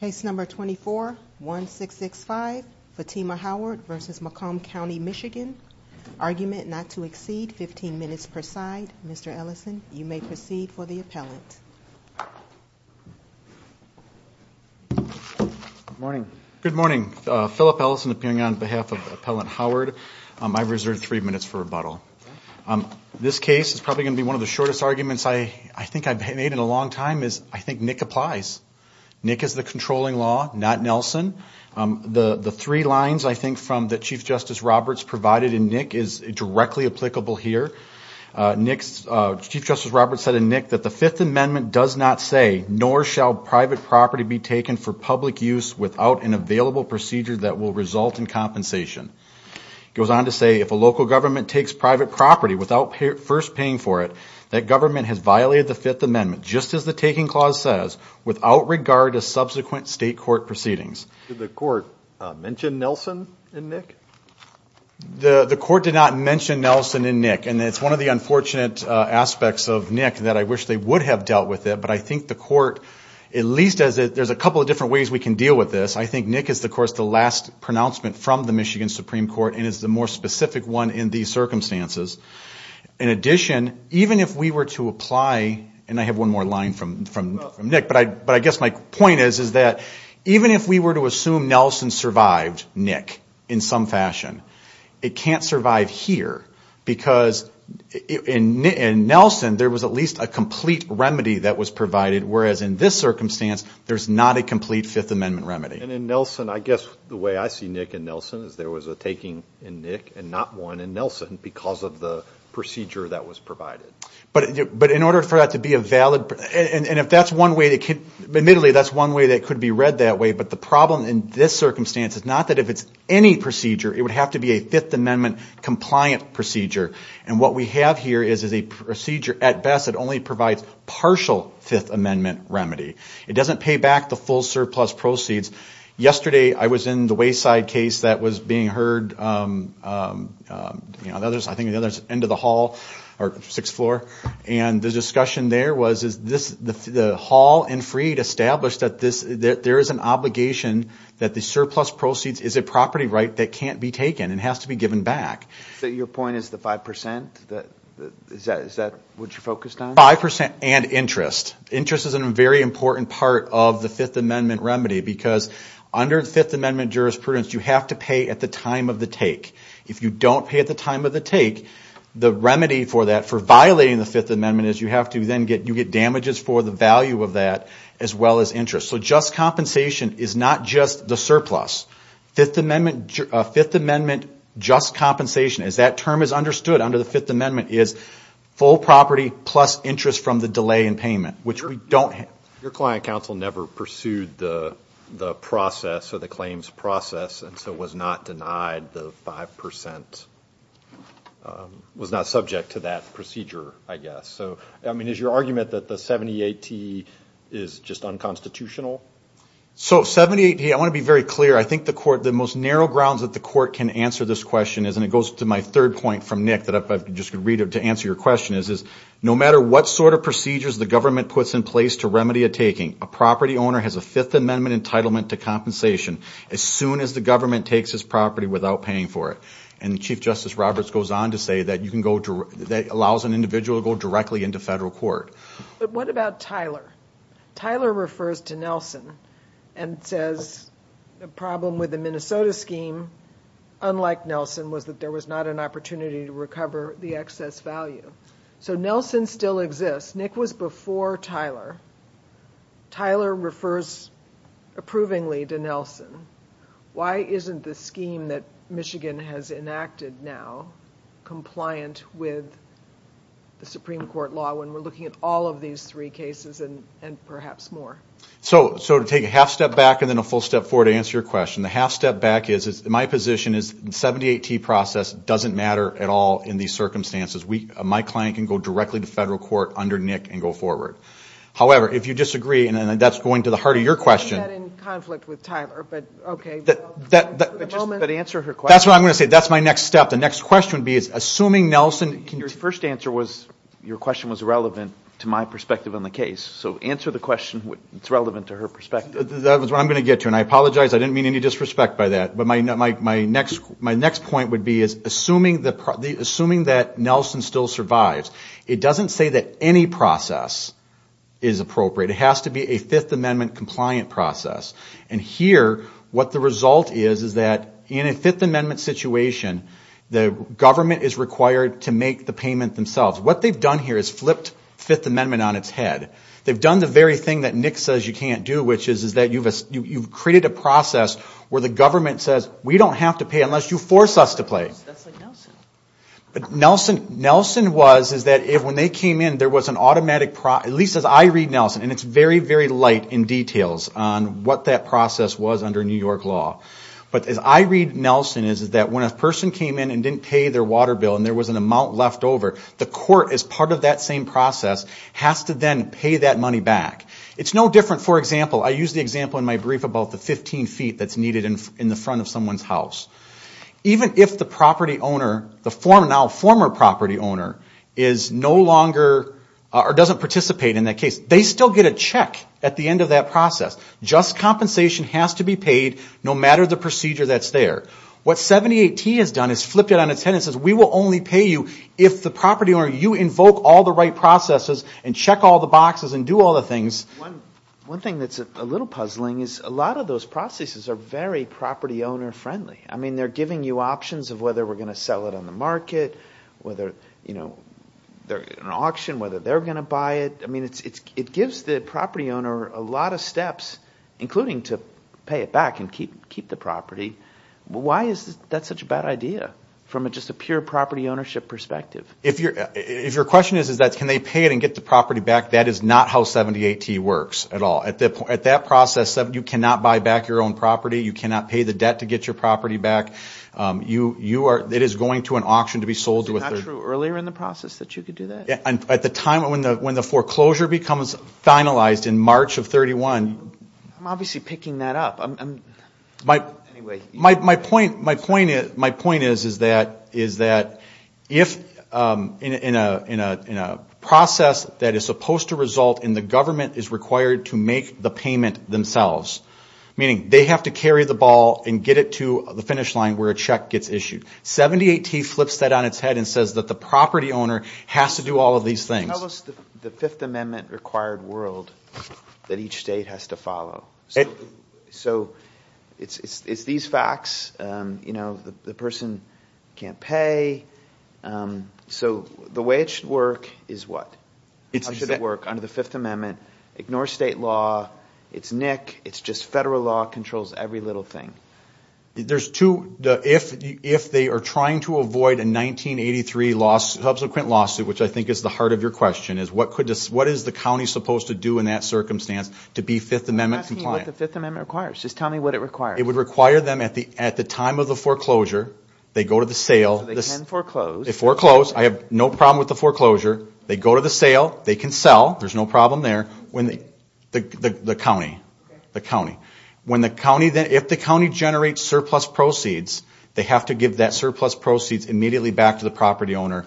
Case number 24-1665, Fittima Howard v. Macomb County, MI. Argument not to exceed 15 minutes per side. Mr. Ellison, you may proceed for the appellant. Good morning. Good morning. Phillip Ellison appearing on behalf of Appellant Howard. I reserve three minutes for rebuttal. This case is probably going to be one of the shortest arguments I think I've made in a long time. I think Nick applies. Nick is the controlling law, not Nelson. The three lines I think that Chief Justice Roberts provided in Nick is directly applicable here. Chief Justice Roberts said in Nick that the Fifth Amendment does not say, nor shall private property be taken for public use without an available procedure that will result in compensation. He goes on to say, if a local government takes private property without first paying for it, that government has violated the Fifth Amendment, just as the Taking Clause says, without regard to subsequent state court proceedings. Did the court mention Nelson in Nick? The court did not mention Nelson in Nick. And it's one of the unfortunate aspects of Nick that I wish they would have dealt with it. But I think the court, at least as there's a couple of different ways we can deal with this, I think Nick is of course the last pronouncement from the Michigan Supreme Court and is the more specific one in these circumstances. In addition, even if we were to apply, and I have one more line from Nick, but I guess my point is that even if we were to assume Nelson survived Nick in some fashion, it can't survive here. Because in Nelson, there was at least a complete remedy that was provided, whereas in this circumstance, there's not a complete Fifth Amendment remedy. And in Nelson, I guess the way I see Nick in Nelson is there was a taking in Nick and not one in Nelson because of the procedure that was provided. But in order for that to be a valid, and if that's one way, admittedly that's one way that could be read that way, but the problem in this circumstance is not that if it's any procedure, it would have to be a Fifth Amendment compliant procedure. And what we have here is a procedure at best that only provides partial Fifth Amendment remedy. It doesn't pay back the full surplus proceeds. Yesterday, I was in the Wayside case that was being heard, I think at the end of the hall or sixth floor, and the discussion there was the hall in Freed established that there is an obligation that the surplus proceeds is a property right that can't be taken and has to be given back. So your point is the 5%? Is that what you're focused on? 5% and interest. Interest is a very important part of the Fifth Amendment remedy because under the Fifth Amendment jurisprudence, you have to pay at the time of the take. If you don't pay at the time of the take, the remedy for that, for violating the Fifth Amendment, is you have to then get damages for the value of that as well as interest. So just compensation is not just the surplus. Fifth Amendment just compensation, as that term is understood under the Fifth Amendment, is full property plus interest from the delay in payment, which we don't have. Your client counsel never pursued the process or the claims process, and so was not denied the 5%, was not subject to that procedure, I guess. So, I mean, is your argument that the 7080 is just unconstitutional? So 7080, I want to be very clear. I think the court, the most narrow grounds that the court can answer this question is, and it goes to my third point from Nick that I just could read to answer your question, is no matter what sort of procedures the government puts in place to remedy a taking, a property owner has a Fifth Amendment entitlement to compensation as soon as the government takes his property without paying for it. And Chief Justice Roberts goes on to say that you can go, that allows an individual to go directly into federal court. But what about Tyler? Tyler refers to Nelson and says the problem with the Minnesota scheme, unlike Nelson, was that there was not an opportunity to recover the excess value. So Nelson still exists. Nick was before Tyler. Tyler refers approvingly to Nelson. Why isn't the scheme that Michigan has enacted now compliant with the Supreme Court law when we're looking at all of these three cases and perhaps more? So to take a half step back and then a full step forward to answer your question, the half step back is my position is the 7080 process doesn't matter at all in these circumstances. My client can go directly to federal court under Nick and go forward. However, if you disagree, and that's going to the heart of your question. I had that in conflict with Tyler, but okay. But answer her question. That's what I'm going to say. That's my next step. The next question would be is assuming Nelson can you. Your first answer was your question was relevant to my perspective on the case. So answer the question. It's relevant to her perspective. That was what I'm going to get to. And I apologize. I didn't mean any disrespect by that. But my next point would be is assuming that Nelson still survives, it doesn't say that any process is appropriate. It has to be a Fifth Amendment compliant process. And here what the result is is that in a Fifth Amendment situation, the government is required to make the payment themselves. What they've done here is flipped Fifth Amendment on its head. They've done the very thing that Nick says you can't do, which is that you've created a process where the government says we don't have to pay unless you force us to pay. That's like Nelson. Nelson was is that when they came in, there was an automatic, at least as I read Nelson, and it's very, very light in details on what that process was under New York law. But as I read Nelson is that when a person came in and didn't pay their water bill and there was an amount left over, the court, as part of that same process, has to then pay that money back. It's no different, for example, I use the example in my brief about the 15 feet that's needed in the front of someone's house. Even if the property owner, the now former property owner, is no longer or doesn't participate in that case, they still get a check at the end of that process. Just compensation has to be paid no matter the procedure that's there. What 78T has done is flipped it on its head and says we will only pay you if the property owner, you invoke all the right processes and check all the boxes and do all the things. One thing that's a little puzzling is a lot of those processes are very property owner friendly. They're giving you options of whether we're going to sell it on the market, whether they're in an auction, whether they're going to buy it. It gives the property owner a lot of steps, including to pay it back and keep the property. Why is that such a bad idea from just a pure property ownership perspective? If your question is that can they pay it and get the property back, that is not how 78T works at all. At that process, you cannot buy back your own property. You cannot pay the debt to get your property back. It is going to an auction to be sold. Is it not true earlier in the process that you could do that? At the time when the foreclosure becomes finalized in March of 31. I'm obviously picking that up. My point is that if in a process that is supposed to result in the government is required to make the payment themselves, meaning they have to carry the ball and get it to the finish line where a check gets issued, 78T flips that on its head and says that the property owner has to do all of these things. Tell us the Fifth Amendment required world that each state has to follow. It is these facts. The person cannot pay. The way it should work is what? How should it work under the Fifth Amendment? Ignore state law. It is NIC. It is just federal law. It controls every little thing. If they are trying to avoid a 1983 subsequent lawsuit, which I think is the heart of your question, what is the county supposed to do in that circumstance to be Fifth Amendment compliant? I'm asking you what the Fifth Amendment requires. Just tell me what it requires. It would require them at the time of the foreclosure, they go to the sale. So they can foreclose. They foreclose. I have no problem with the foreclosure. They go to the sale. They can sell. There is no problem there. The county. If the county generates surplus proceeds, they have to give that surplus proceeds immediately back to the property owner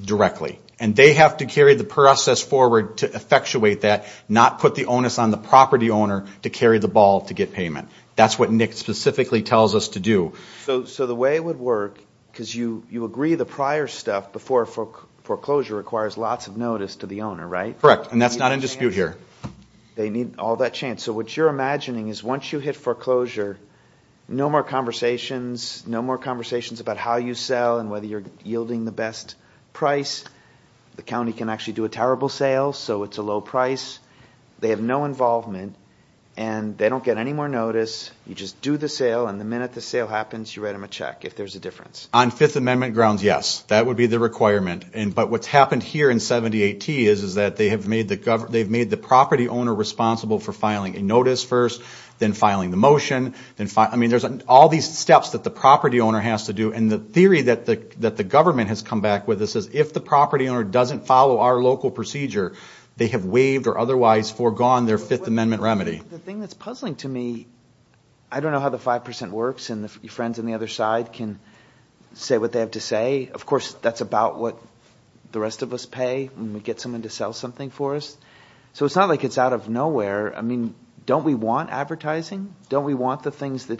directly. And they have to carry the process forward to effectuate that, not put the onus on the property owner to carry the ball to get payment. That's what NIC specifically tells us to do. So the way it would work, because you agree the prior stuff, before foreclosure requires lots of notice to the owner, right? Correct. And that's not in dispute here. They need all that chance. So what you're imagining is once you hit foreclosure, no more conversations, no more conversations about how you sell and whether you're yielding the best price. The county can actually do a terrible sale, so it's a low price. They have no involvement, and they don't get any more notice. You just do the sale, and the minute the sale happens, you write them a check if there's a difference. On Fifth Amendment grounds, yes. That would be the requirement. But what's happened here in 78T is that they've made the property owner responsible for filing a notice first, then filing the motion. I mean, there's all these steps that the property owner has to do. And the theory that the government has come back with is if the property owner doesn't follow our local procedure, they have waived or otherwise foregone their Fifth Amendment remedy. The thing that's puzzling to me, I don't know how the 5% works, and your friends on the other side can say what they have to say. Of course, that's about what the rest of us pay when we get someone to sell something for us. So it's not like it's out of nowhere. I mean, don't we want advertising? Don't we want the things that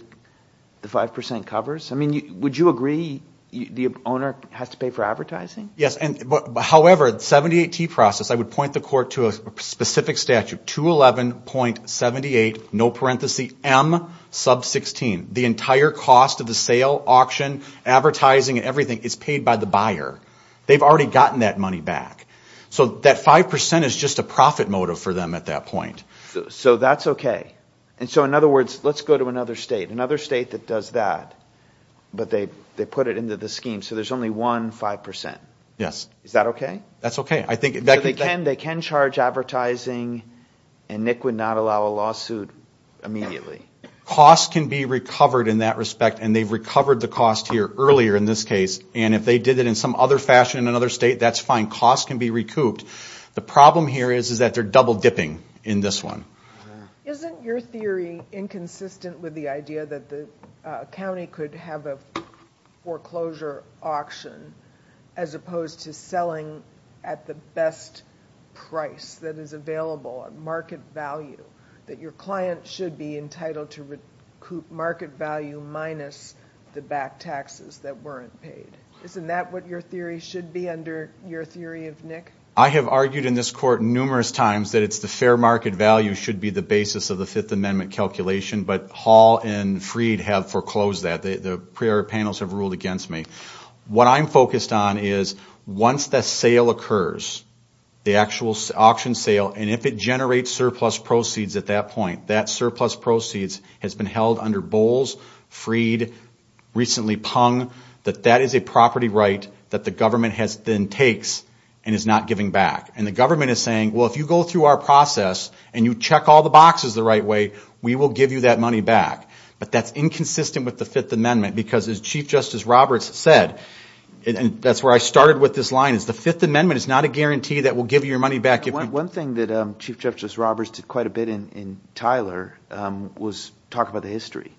the 5% covers? I mean, would you agree the owner has to pay for advertising? Yes. However, the 78T process, I would point the court to a specific statute, 211.78, no parentheses, M sub 16. The entire cost of the sale, auction, advertising, and everything is paid by the buyer. They've already gotten that money back. So that 5% is just a profit motive for them at that point. So that's okay. And so, in other words, let's go to another state, another state that does that, but they put it into the scheme. So there's only one 5%. Yes. Is that okay? That's okay. They can charge advertising, and Nick would not allow a lawsuit immediately. Costs can be recovered in that respect, and they've recovered the cost here earlier in this case. And if they did it in some other fashion in another state, that's fine. Costs can be recouped. The problem here is that they're double-dipping in this one. Isn't your theory inconsistent with the idea that a county could have a foreclosure auction as opposed to selling at the best price that is available, a market value, that your client should be entitled to recoup market value minus the back taxes that weren't paid? Isn't that what your theory should be under your theory of Nick? I have argued in this court numerous times that it's the fair market value should be the basis of the Fifth Amendment calculation, but Hall and Freed have foreclosed that. The prior panels have ruled against me. What I'm focused on is once the sale occurs, the actual auction sale, and if it generates surplus proceeds at that point, that surplus proceeds has been held under Bowles, Freed, recently Pung, that that is a property right that the government then takes and is not giving back. And the government is saying, well, if you go through our process and you check all the boxes the right way, we will give you that money back. But that's inconsistent with the Fifth Amendment because as Chief Justice Roberts said, and that's where I started with this line, is the Fifth Amendment is not a guarantee that we'll give you your money back. One thing that Chief Justice Roberts did quite a bit in Tyler was talk about the history.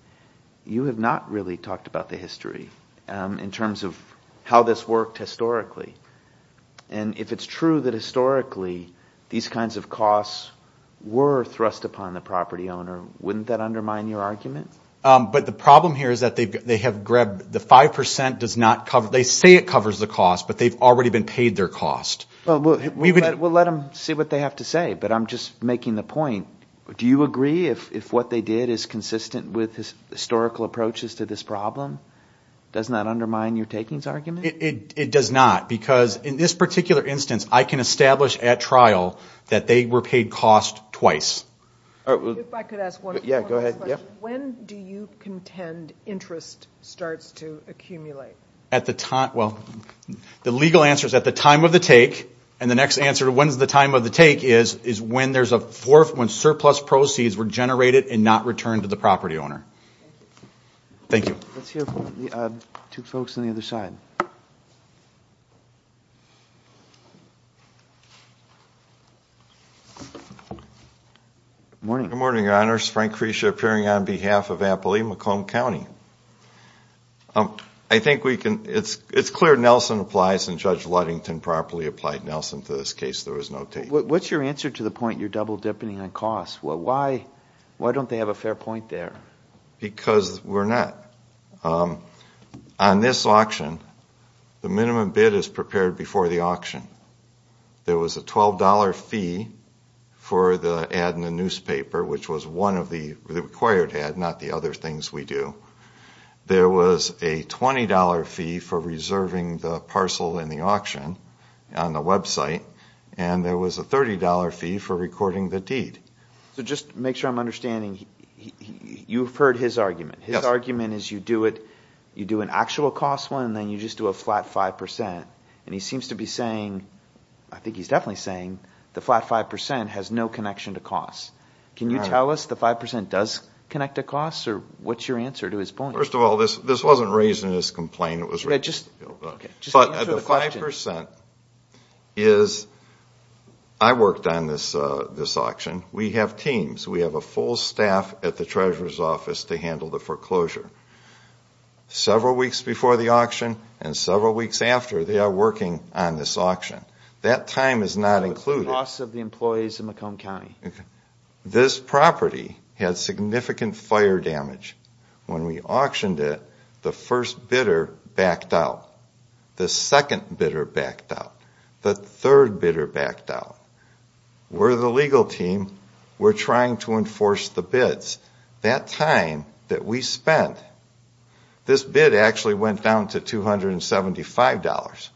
You have not really talked about the history in terms of how this worked historically. And if it's true that historically these kinds of costs were thrust upon the property owner, wouldn't that undermine your argument? But the problem here is that they have grabbed the 5%. They say it covers the cost, but they've already been paid their cost. Well, we'll let them see what they have to say, but I'm just making the point. Do you agree if what they did is consistent with historical approaches to this problem? Doesn't that undermine your takings argument? It does not because in this particular instance, I can establish at trial that they were paid cost twice. If I could ask one more question. Yeah, go ahead. When do you contend interest starts to accumulate? Well, the legal answer is at the time of the take, and the next answer to when is the time of the take is when surplus proceeds were generated and not returned to the property owner. Thank you. Let's hear from the two folks on the other side. Good morning. Good morning, Your Honors. Frank Crescia appearing on behalf of Appalachia-Macomb County. I think it's clear Nelson applies, and Judge Ludington properly applied Nelson to this case. There was no take. What's your answer to the point you're double-dipping on cost? Why don't they have a fair point there? Because we're not. On this auction, the minimum bid is prepared before the auction. There was a $12 fee for the ad in the newspaper, which was one of the required ads, not the other things we do. There was a $20 fee for reserving the parcel in the auction on the website, and there was a $30 fee for recording the deed. So just to make sure I'm understanding, you've heard his argument. His argument is you do an actual cost one and then you just do a flat 5%, and he seems to be saying, I think he's definitely saying, the flat 5% has no connection to cost. Can you tell us the 5% does connect to cost, or what's your answer to his point? First of all, this wasn't raised in his complaint. But the 5% is I worked on this auction. We have teams. We have a full staff at the Treasurer's Office to handle the foreclosure. Several weeks before the auction and several weeks after, they are working on this auction. That time is not included. This property had significant fire damage. When we auctioned it, the first bidder backed out. The second bidder backed out. The third bidder backed out. We're the legal team. We're trying to enforce the bids. That time that we spent, this bid actually went down to $275.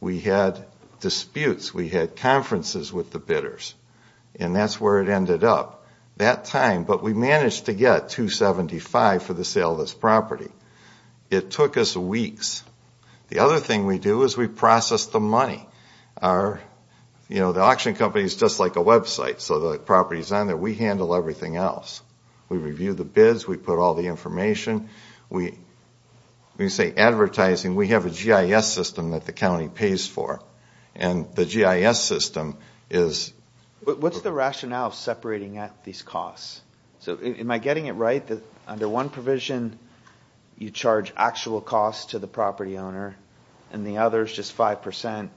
We had disputes. We had conferences with the bidders, and that's where it ended up. That time, but we managed to get $275 for the sale of this property. It took us weeks. The other thing we do is we process the money. The auction company is just like a website, so the property is on there. We handle everything else. We review the bids. We put all the information. We say advertising. We have a GIS system that the county pays for, and the GIS system is ____. What's the rationale separating out these costs? Am I getting it right that under one provision, you charge actual costs to the property owner, and the other is just 5%?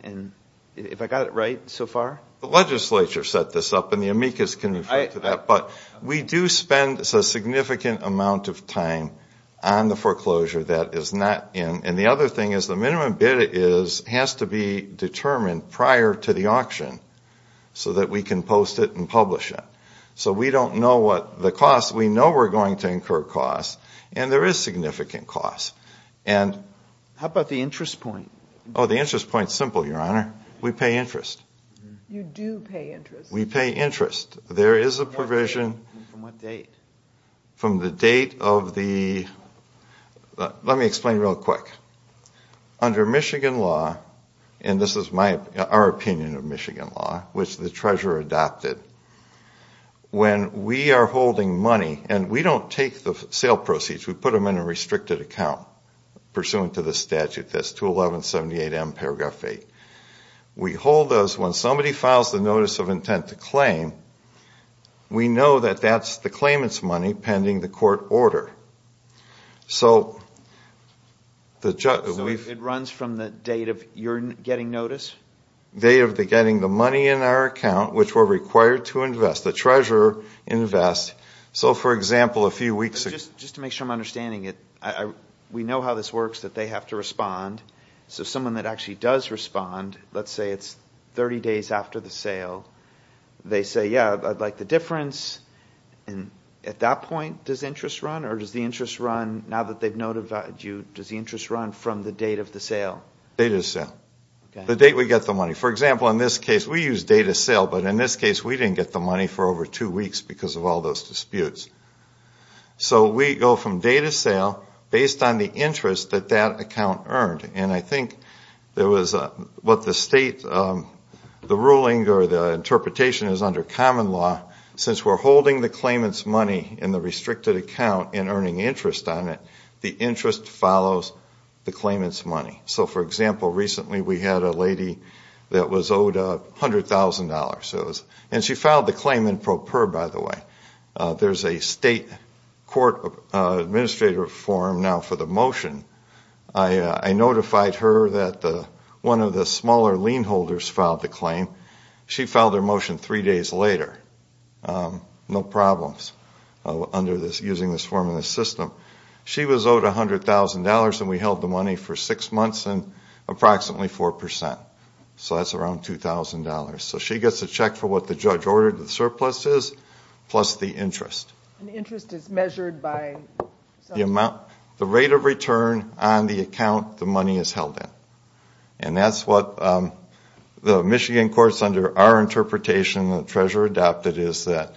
Have I got it right so far? The legislature set this up, and the amicus can refer to that, but we do spend a significant amount of time on the foreclosure that is not in. The other thing is the minimum bid has to be determined prior to the auction so that we can post it and publish it. So we don't know the cost. We know we're going to incur costs, and there is significant costs. How about the interest point? The interest point is simple, Your Honor. We pay interest. You do pay interest. We pay interest. There is a provision. From what date? From the date of the ____. Let me explain real quick. Under Michigan law, and this is our opinion of Michigan law, which the treasurer adopted, when we are holding money, and we don't take the sale proceeds. We put them in a restricted account pursuant to the statute. That's 21178M, paragraph 8. We hold those. When somebody files the notice of intent to claim, we know that that's the claimant's money pending the court order. So it runs from the date of your getting notice? The date of getting the money in our account, which we're required to invest. The treasurer invests. So, for example, a few weeks ago. Just to make sure I'm understanding it, we know how this works, that they have to respond. So someone that actually does respond, let's say it's 30 days after the sale, they say, yeah, I'd like the difference. At that point, does interest run? Or does the interest run, now that they've notified you, does the interest run from the date of the sale? Date of the sale. The date we get the money. For example, in this case, we use date of sale, but in this case we didn't get the money for over two weeks because of all those disputes. So we go from date of sale based on the interest that that account earned. And I think there was what the state, the ruling, or the interpretation is under common law, since we're holding the claimant's money in the restricted account and earning interest on it, the interest follows the claimant's money. So, for example, recently we had a lady that was owed $100,000. And she filed the claim in pro per, by the way. There's a state court administrative form now for the motion. I notified her that one of the smaller lien holders filed the claim. She filed her motion three days later. No problems using this form in the system. She was owed $100,000, and we held the money for six months and approximately 4%. So that's around $2,000. So she gets a check for what the judge ordered the surplus is, plus the interest. And the interest is measured by? The rate of return on the account the money is held in. And that's what the Michigan courts under our interpretation, the treasurer adopted, is that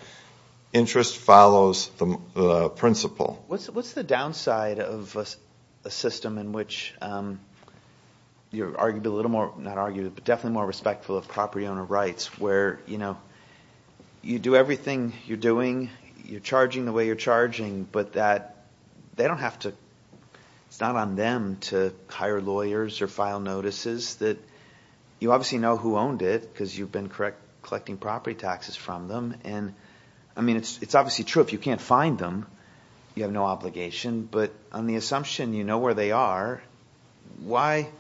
interest follows the principle. What's the downside of a system in which you're argued a little more, not argued, but definitely more respectful of property owner rights, where you do everything you're doing, you're charging the way you're charging, but that they don't have to, it's not on them to hire lawyers or file notices that you obviously know who owned it because you've been collecting property taxes from them. And, I mean, it's obviously true if you can't find them, you have no obligation. But on the assumption you know where they are, why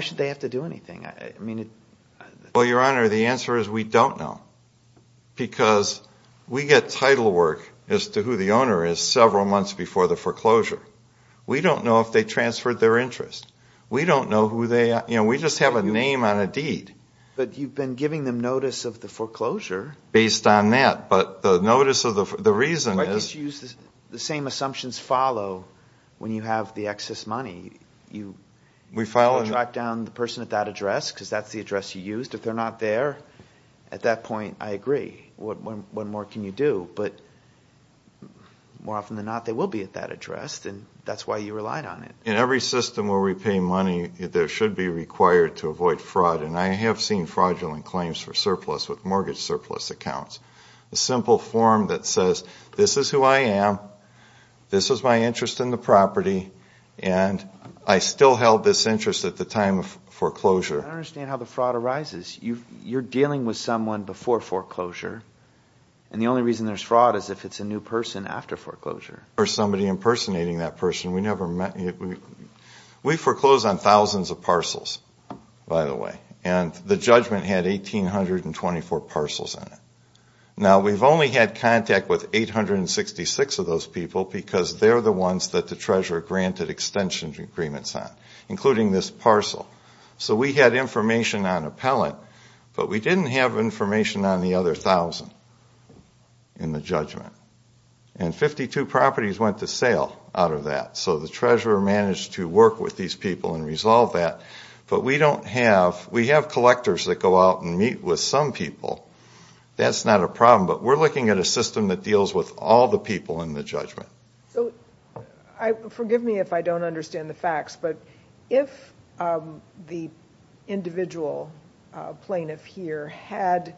should they have to do anything? Well, Your Honor, the answer is we don't know because we get title work as to who the owner is several months before the foreclosure. We don't know if they transferred their interest. We don't know who they are. You know, we just have a name on a deed. But you've been giving them notice of the foreclosure. Based on that. But the notice of the reason is. I guess you use the same assumptions follow when you have the excess money. You drop down the person at that address because that's the address you used. If they're not there at that point, I agree. What more can you do? But more often than not, they will be at that address. And that's why you relied on it. In every system where we pay money, there should be required to avoid fraud. And I have seen fraudulent claims for surplus with mortgage surplus accounts. A simple form that says this is who I am, this is my interest in the property, and I still held this interest at the time of foreclosure. I don't understand how the fraud arises. You're dealing with someone before foreclosure. And the only reason there's fraud is if it's a new person after foreclosure. Or somebody impersonating that person. We never met. We foreclosed on thousands of parcels, by the way. And the judgment had 1,824 parcels in it. Now, we've only had contact with 866 of those people because they're the ones that the treasurer granted extension agreements on, including this parcel. So we had information on appellant, but we didn't have information on the other thousand in the judgment. And 52 properties went to sale out of that. So the treasurer managed to work with these people and resolve that. But we have collectors that go out and meet with some people. That's not a problem. But we're looking at a system that deals with all the people in the judgment. So forgive me if I don't understand the facts, but if the individual plaintiff here had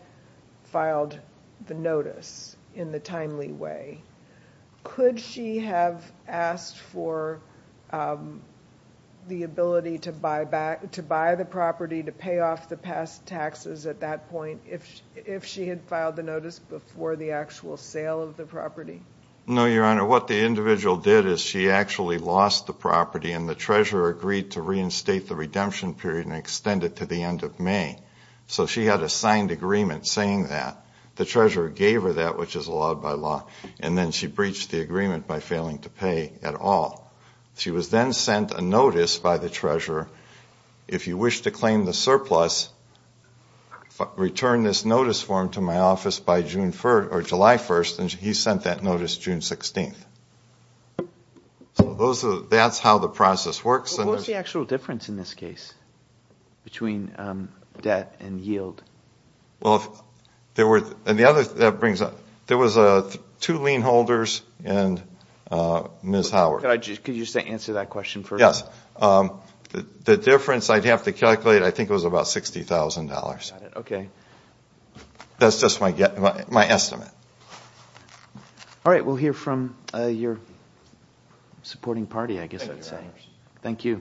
filed the notice in the timely way, could she have asked for the ability to buy the property, to pay off the past taxes at that point, if she had filed the notice before the actual sale of the property? No, Your Honor. What the individual did is she actually lost the property, and the treasurer agreed to reinstate the redemption period and extend it to the end of May. So she had a signed agreement saying that. The treasurer gave her that, which is allowed by law. And then she breached the agreement by failing to pay at all. She was then sent a notice by the treasurer, if you wish to claim the surplus, return this notice form to my office by July 1st. And he sent that notice June 16th. So that's how the process works. What's the actual difference in this case between debt and yield? Well, there was two lien holders and Ms. Howard. Could you answer that question first? Yes. The difference I'd have to calculate, I think it was about $60,000. Okay. That's just my estimate. All right. We'll hear from your supporting party, I guess I'd say. Thank you, Your Honors. Thank you.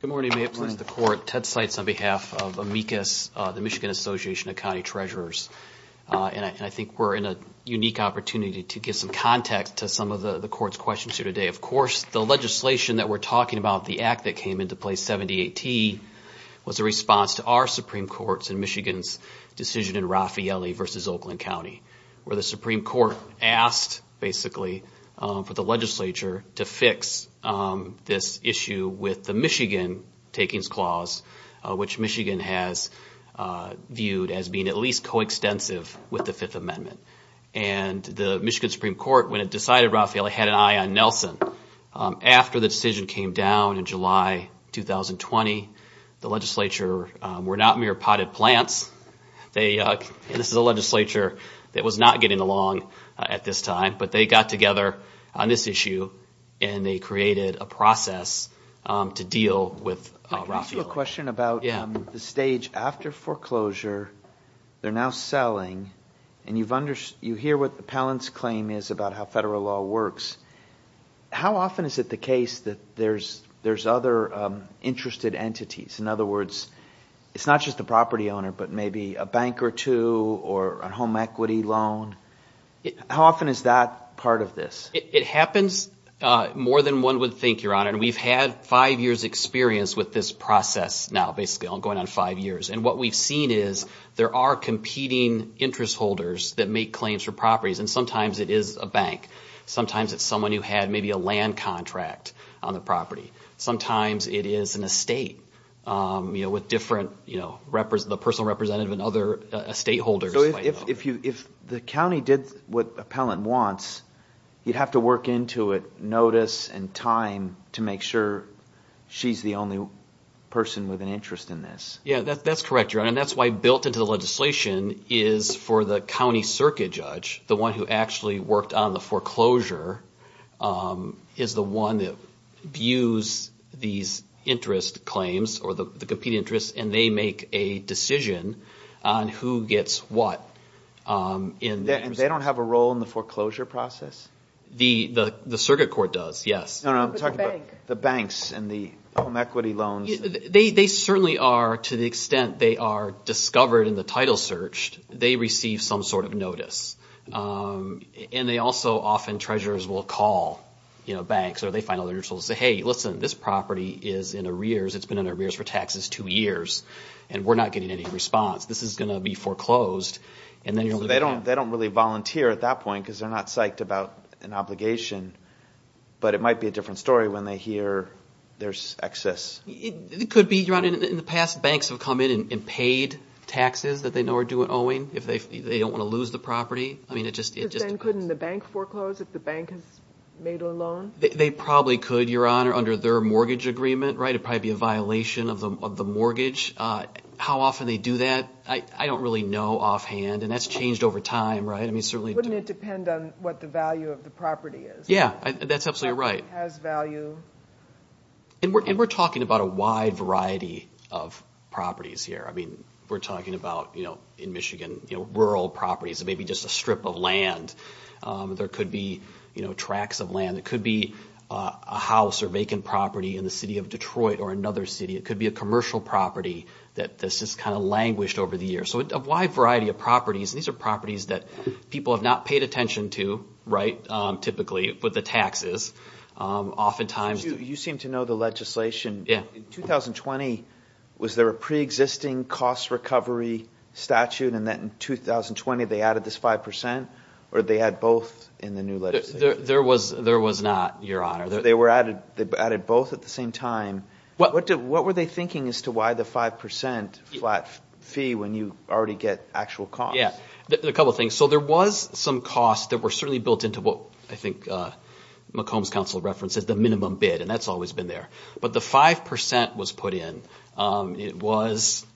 Good morning. May it please the Court. Ted Seitz on behalf of AMICUS, the Michigan Association of County Treasurers. And I think we're in a unique opportunity to give some context to some of the Court's questions here today. Of course, the legislation that we're talking about, the act that came into place, 78T, was a response to our Supreme Court's and Michigan's decision in Raffaele versus Oakland County, where the Supreme Court asked basically for the legislature to fix this issue with the Michigan takings clause, which Michigan has viewed as being at least coextensive with the Fifth Amendment. And the Michigan Supreme Court, when it decided Raffaele, had an eye on Nelson. After the decision came down in July 2020, the legislature were not mere potted plants. This is a legislature that was not getting along at this time, but they got together on this issue and they created a process to deal with Raffaele. Let me ask you a question about the stage after foreclosure, they're now selling, and you hear what the appellant's claim is about how federal law works. How often is it the case that there's other interested entities? In other words, it's not just the property owner, but maybe a bank or two or a home equity loan. How often is that part of this? It happens more than one would think, Your Honor. And we've had five years' experience with this process now, basically ongoing on five years. And what we've seen is there are competing interest holders that make claims for properties, and sometimes it is a bank. Sometimes it's someone who had maybe a land contract on the property. Sometimes it is an estate with different, you know, the personal representative and other estate holders. So if the county did what the appellant wants, you'd have to work into it notice and time to make sure she's the only person with an interest in this. Yeah, that's correct, Your Honor. And that's why built into the legislation is for the county circuit judge, the one who actually worked on the foreclosure, is the one that views these interest claims or the competing interests, and they make a decision on who gets what. And they don't have a role in the foreclosure process? The circuit court does, yes. No, no, I'm talking about the banks and the home equity loans. They certainly are, to the extent they are discovered in the title search, they receive some sort of notice. And they also often, treasurers will call, you know, banks or they find other interest holders and say, hey, listen, this property is in arrears. It's been in arrears for taxes two years, and we're not getting any response. This is going to be foreclosed. So they don't really volunteer at that point because they're not psyched about an obligation. But it might be a different story when they hear there's excess. It could be, Your Honor. In the past, banks have come in and paid taxes that they know are due and owing if they don't want to lose the property. But then couldn't the bank foreclose if the bank has made a loan? They probably could, Your Honor, under their mortgage agreement. It would probably be a violation of the mortgage. How often they do that, I don't really know offhand, and that's changed over time, right? I mean, certainly. Wouldn't it depend on what the value of the property is? Yeah, that's absolutely right. Has value. And we're talking about a wide variety of properties here. I mean, we're talking about, you know, in Michigan, rural properties, maybe just a strip of land. There could be, you know, tracts of land. It could be a house or vacant property in the city of Detroit or another city. It could be a commercial property that's just kind of languished over the years. So a wide variety of properties. These are properties that people have not paid attention to, right, typically, with the taxes, oftentimes. You seem to know the legislation. In 2020, was there a preexisting cost recovery statute and then in 2020 they added this 5% or they had both in the new legislation? There was not, Your Honor. They added both at the same time. What were they thinking as to why the 5% flat fee when you already get actual costs? Yeah, a couple of things. So there was some costs that were certainly built into what I think McComb's counsel referenced as the minimum bid, and that's always been there. But the 5% was put in. It was,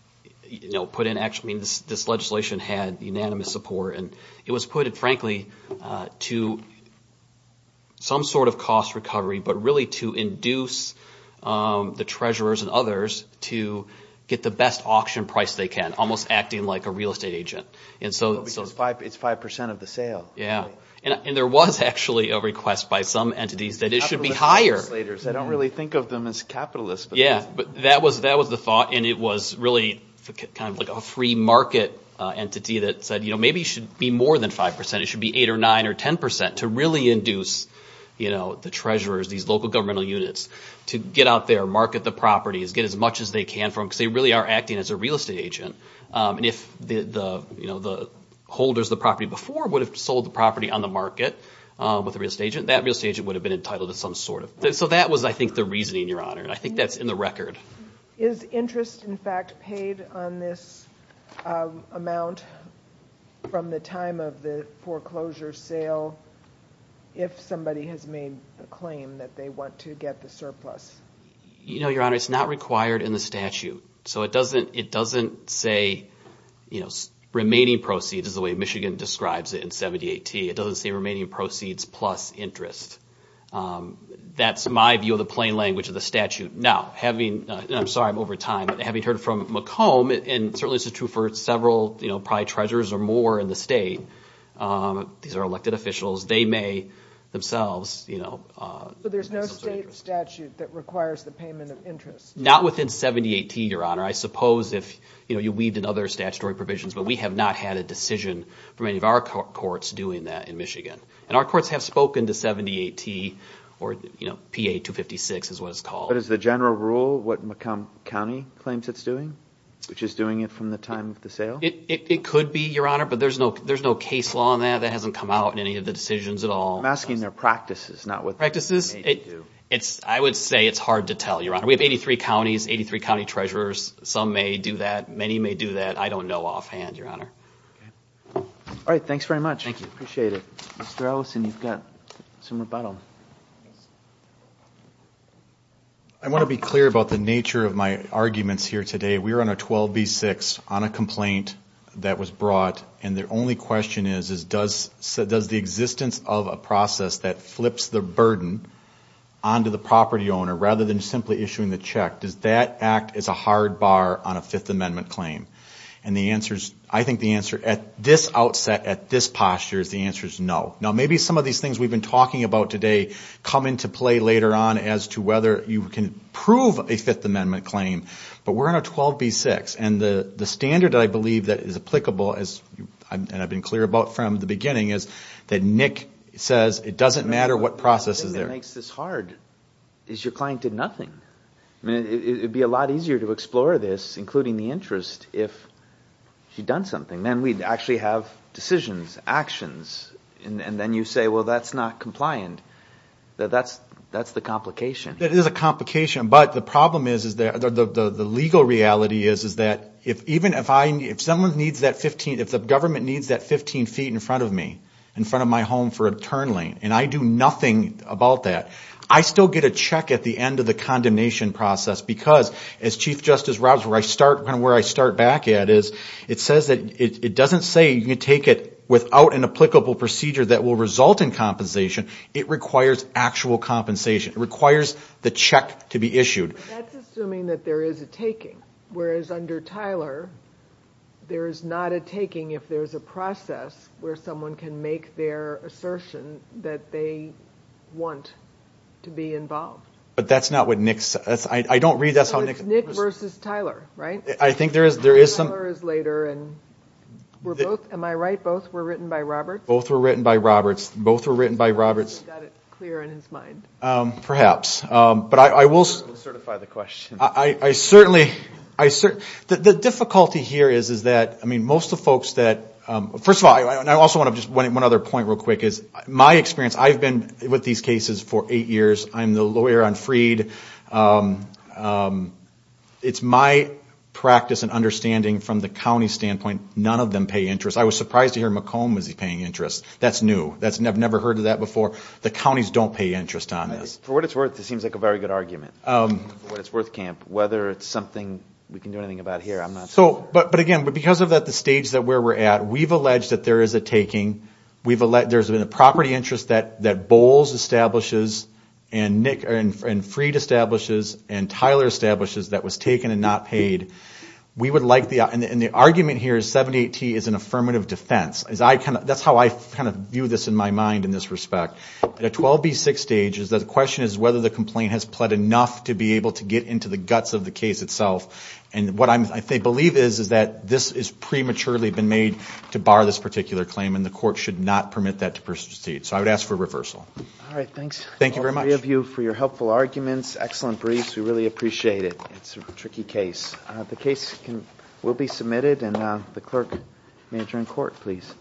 you know, put in actually, this legislation had unanimous support, and it was put, frankly, to some sort of cost recovery, but really to induce the treasurers and others to get the best auction price they can, almost acting like a real estate agent. It's 5% of the sale. Yeah, and there was actually a request by some entities that it should be higher. I don't really think of them as capitalists. Yeah, but that was the thought, and it was really kind of like a free market entity that said, you know, maybe it should be more than 5%. It should be 8% or 9% or 10% to really induce, you know, the treasurers, these local governmental units to get out there, market the properties, get as much as they can from them because they really are acting as a real estate agent. And if the holders of the property before would have sold the property on the market with a real estate agent, that real estate agent would have been entitled to some sort of price. So that was, I think, the reasoning, Your Honor, and I think that's in the record. Is interest, in fact, paid on this amount from the time of the foreclosure sale if somebody has made the claim that they want to get the surplus? You know, Your Honor, it's not required in the statute. So it doesn't say, you know, remaining proceeds is the way Michigan describes it in 78T. It doesn't say remaining proceeds plus interest. That's my view of the plain language of the statute. Now, having, and I'm sorry I'm over time, but having heard from McComb, and certainly this is true for several, you know, probably treasurers or more in the state, these are elected officials, they may themselves, you know, But there's no state statute that requires the payment of interest. Not within 78T, Your Honor. I suppose if, you know, you weaved in other statutory provisions, but we have not had a decision from any of our courts doing that in Michigan. And our courts have spoken to 78T or, you know, PA-256 is what it's called. But is the general rule what McComb County claims it's doing, which is doing it from the time of the sale? It could be, Your Honor, but there's no case law on that. That hasn't come out in any of the decisions at all. I'm asking their practices, not what they do. I would say it's hard to tell, Your Honor. We have 83 counties, 83 county treasurers. Some may do that. Many may do that. I don't know offhand, Your Honor. All right, thanks very much. Thank you. Appreciate it. Mr. Ellison, you've got some rebuttal. I want to be clear about the nature of my arguments here today. We're on a 12B-6 on a complaint that was brought, and the only question is does the existence of a process that flips the burden onto the property owner rather than simply issuing the check, does that act as a hard bar on a Fifth Amendment claim? I think the answer at this outset, at this posture, is the answer is no. Now, maybe some of these things we've been talking about today come into play later on as to whether you can prove a Fifth Amendment claim, but we're on a 12B-6, and the standard I believe that is applicable, and I've been clear about from the beginning, is that Nick says it doesn't matter what process is there. The thing that makes this hard is your client did nothing. It would be a lot easier to explore this, including the interest, if she'd done something. Then we'd actually have decisions, actions, and then you say, well, that's not compliant. That's the complication. That is a complication, but the problem is, the legal reality is, is that even if someone needs that 15, if the government needs that 15 feet in front of me, in front of my home for eternally, and I do nothing about that, I still get a check at the end of the condemnation process because, as Chief Justice Roberts, where I start back at is, it doesn't say you can take it without an applicable procedure that will result in compensation. It requires actual compensation. It requires the check to be issued. That's assuming that there is a taking, whereas under Tyler, there is not a taking if there's a process where someone can make their assertion that they want to be involved. But that's not what Nick said. I don't read that. So it's Nick versus Tyler, right? I think there is some. Tyler is later. Am I right? Both were written by Roberts? Both were written by Roberts. Both were written by Roberts. He got it clear in his mind. Perhaps. We'll certify the question. I certainly, the difficulty here is that, I mean, most of the folks that, first of all, and I also want to just, one other point real quick is, my experience, I've been with these cases for eight years. I'm the lawyer on Freed. It's my practice and understanding from the county standpoint, none of them pay interest. I was surprised to hear McComb was paying interest. That's new. I've never heard of that before. The counties don't pay interest on this. For what it's worth, this seems like a very good argument. For what it's worth, Camp, whether it's something we can do anything about here, I'm not so sure. But, again, because of that, the stage where we're at, we've alleged that there is a taking. There's been a property interest that Bowles establishes and Freed establishes and Tyler establishes that was taken and not paid. We would like the, and the argument here is 718 is an affirmative defense. That's how I kind of view this in my mind in this respect. At a 12B6 stage, the question is whether the complaint has pled enough to be able to get into the guts of the case itself. And what I believe is that this is prematurely been made to bar this particular claim and the court should not permit that to proceed. So I would ask for reversal. All right. Thanks. Thank you very much. All three of you for your helpful arguments. Excellent briefs. We really appreciate it. It's a tricky case. The case will be submitted and the clerk may adjourn court, please.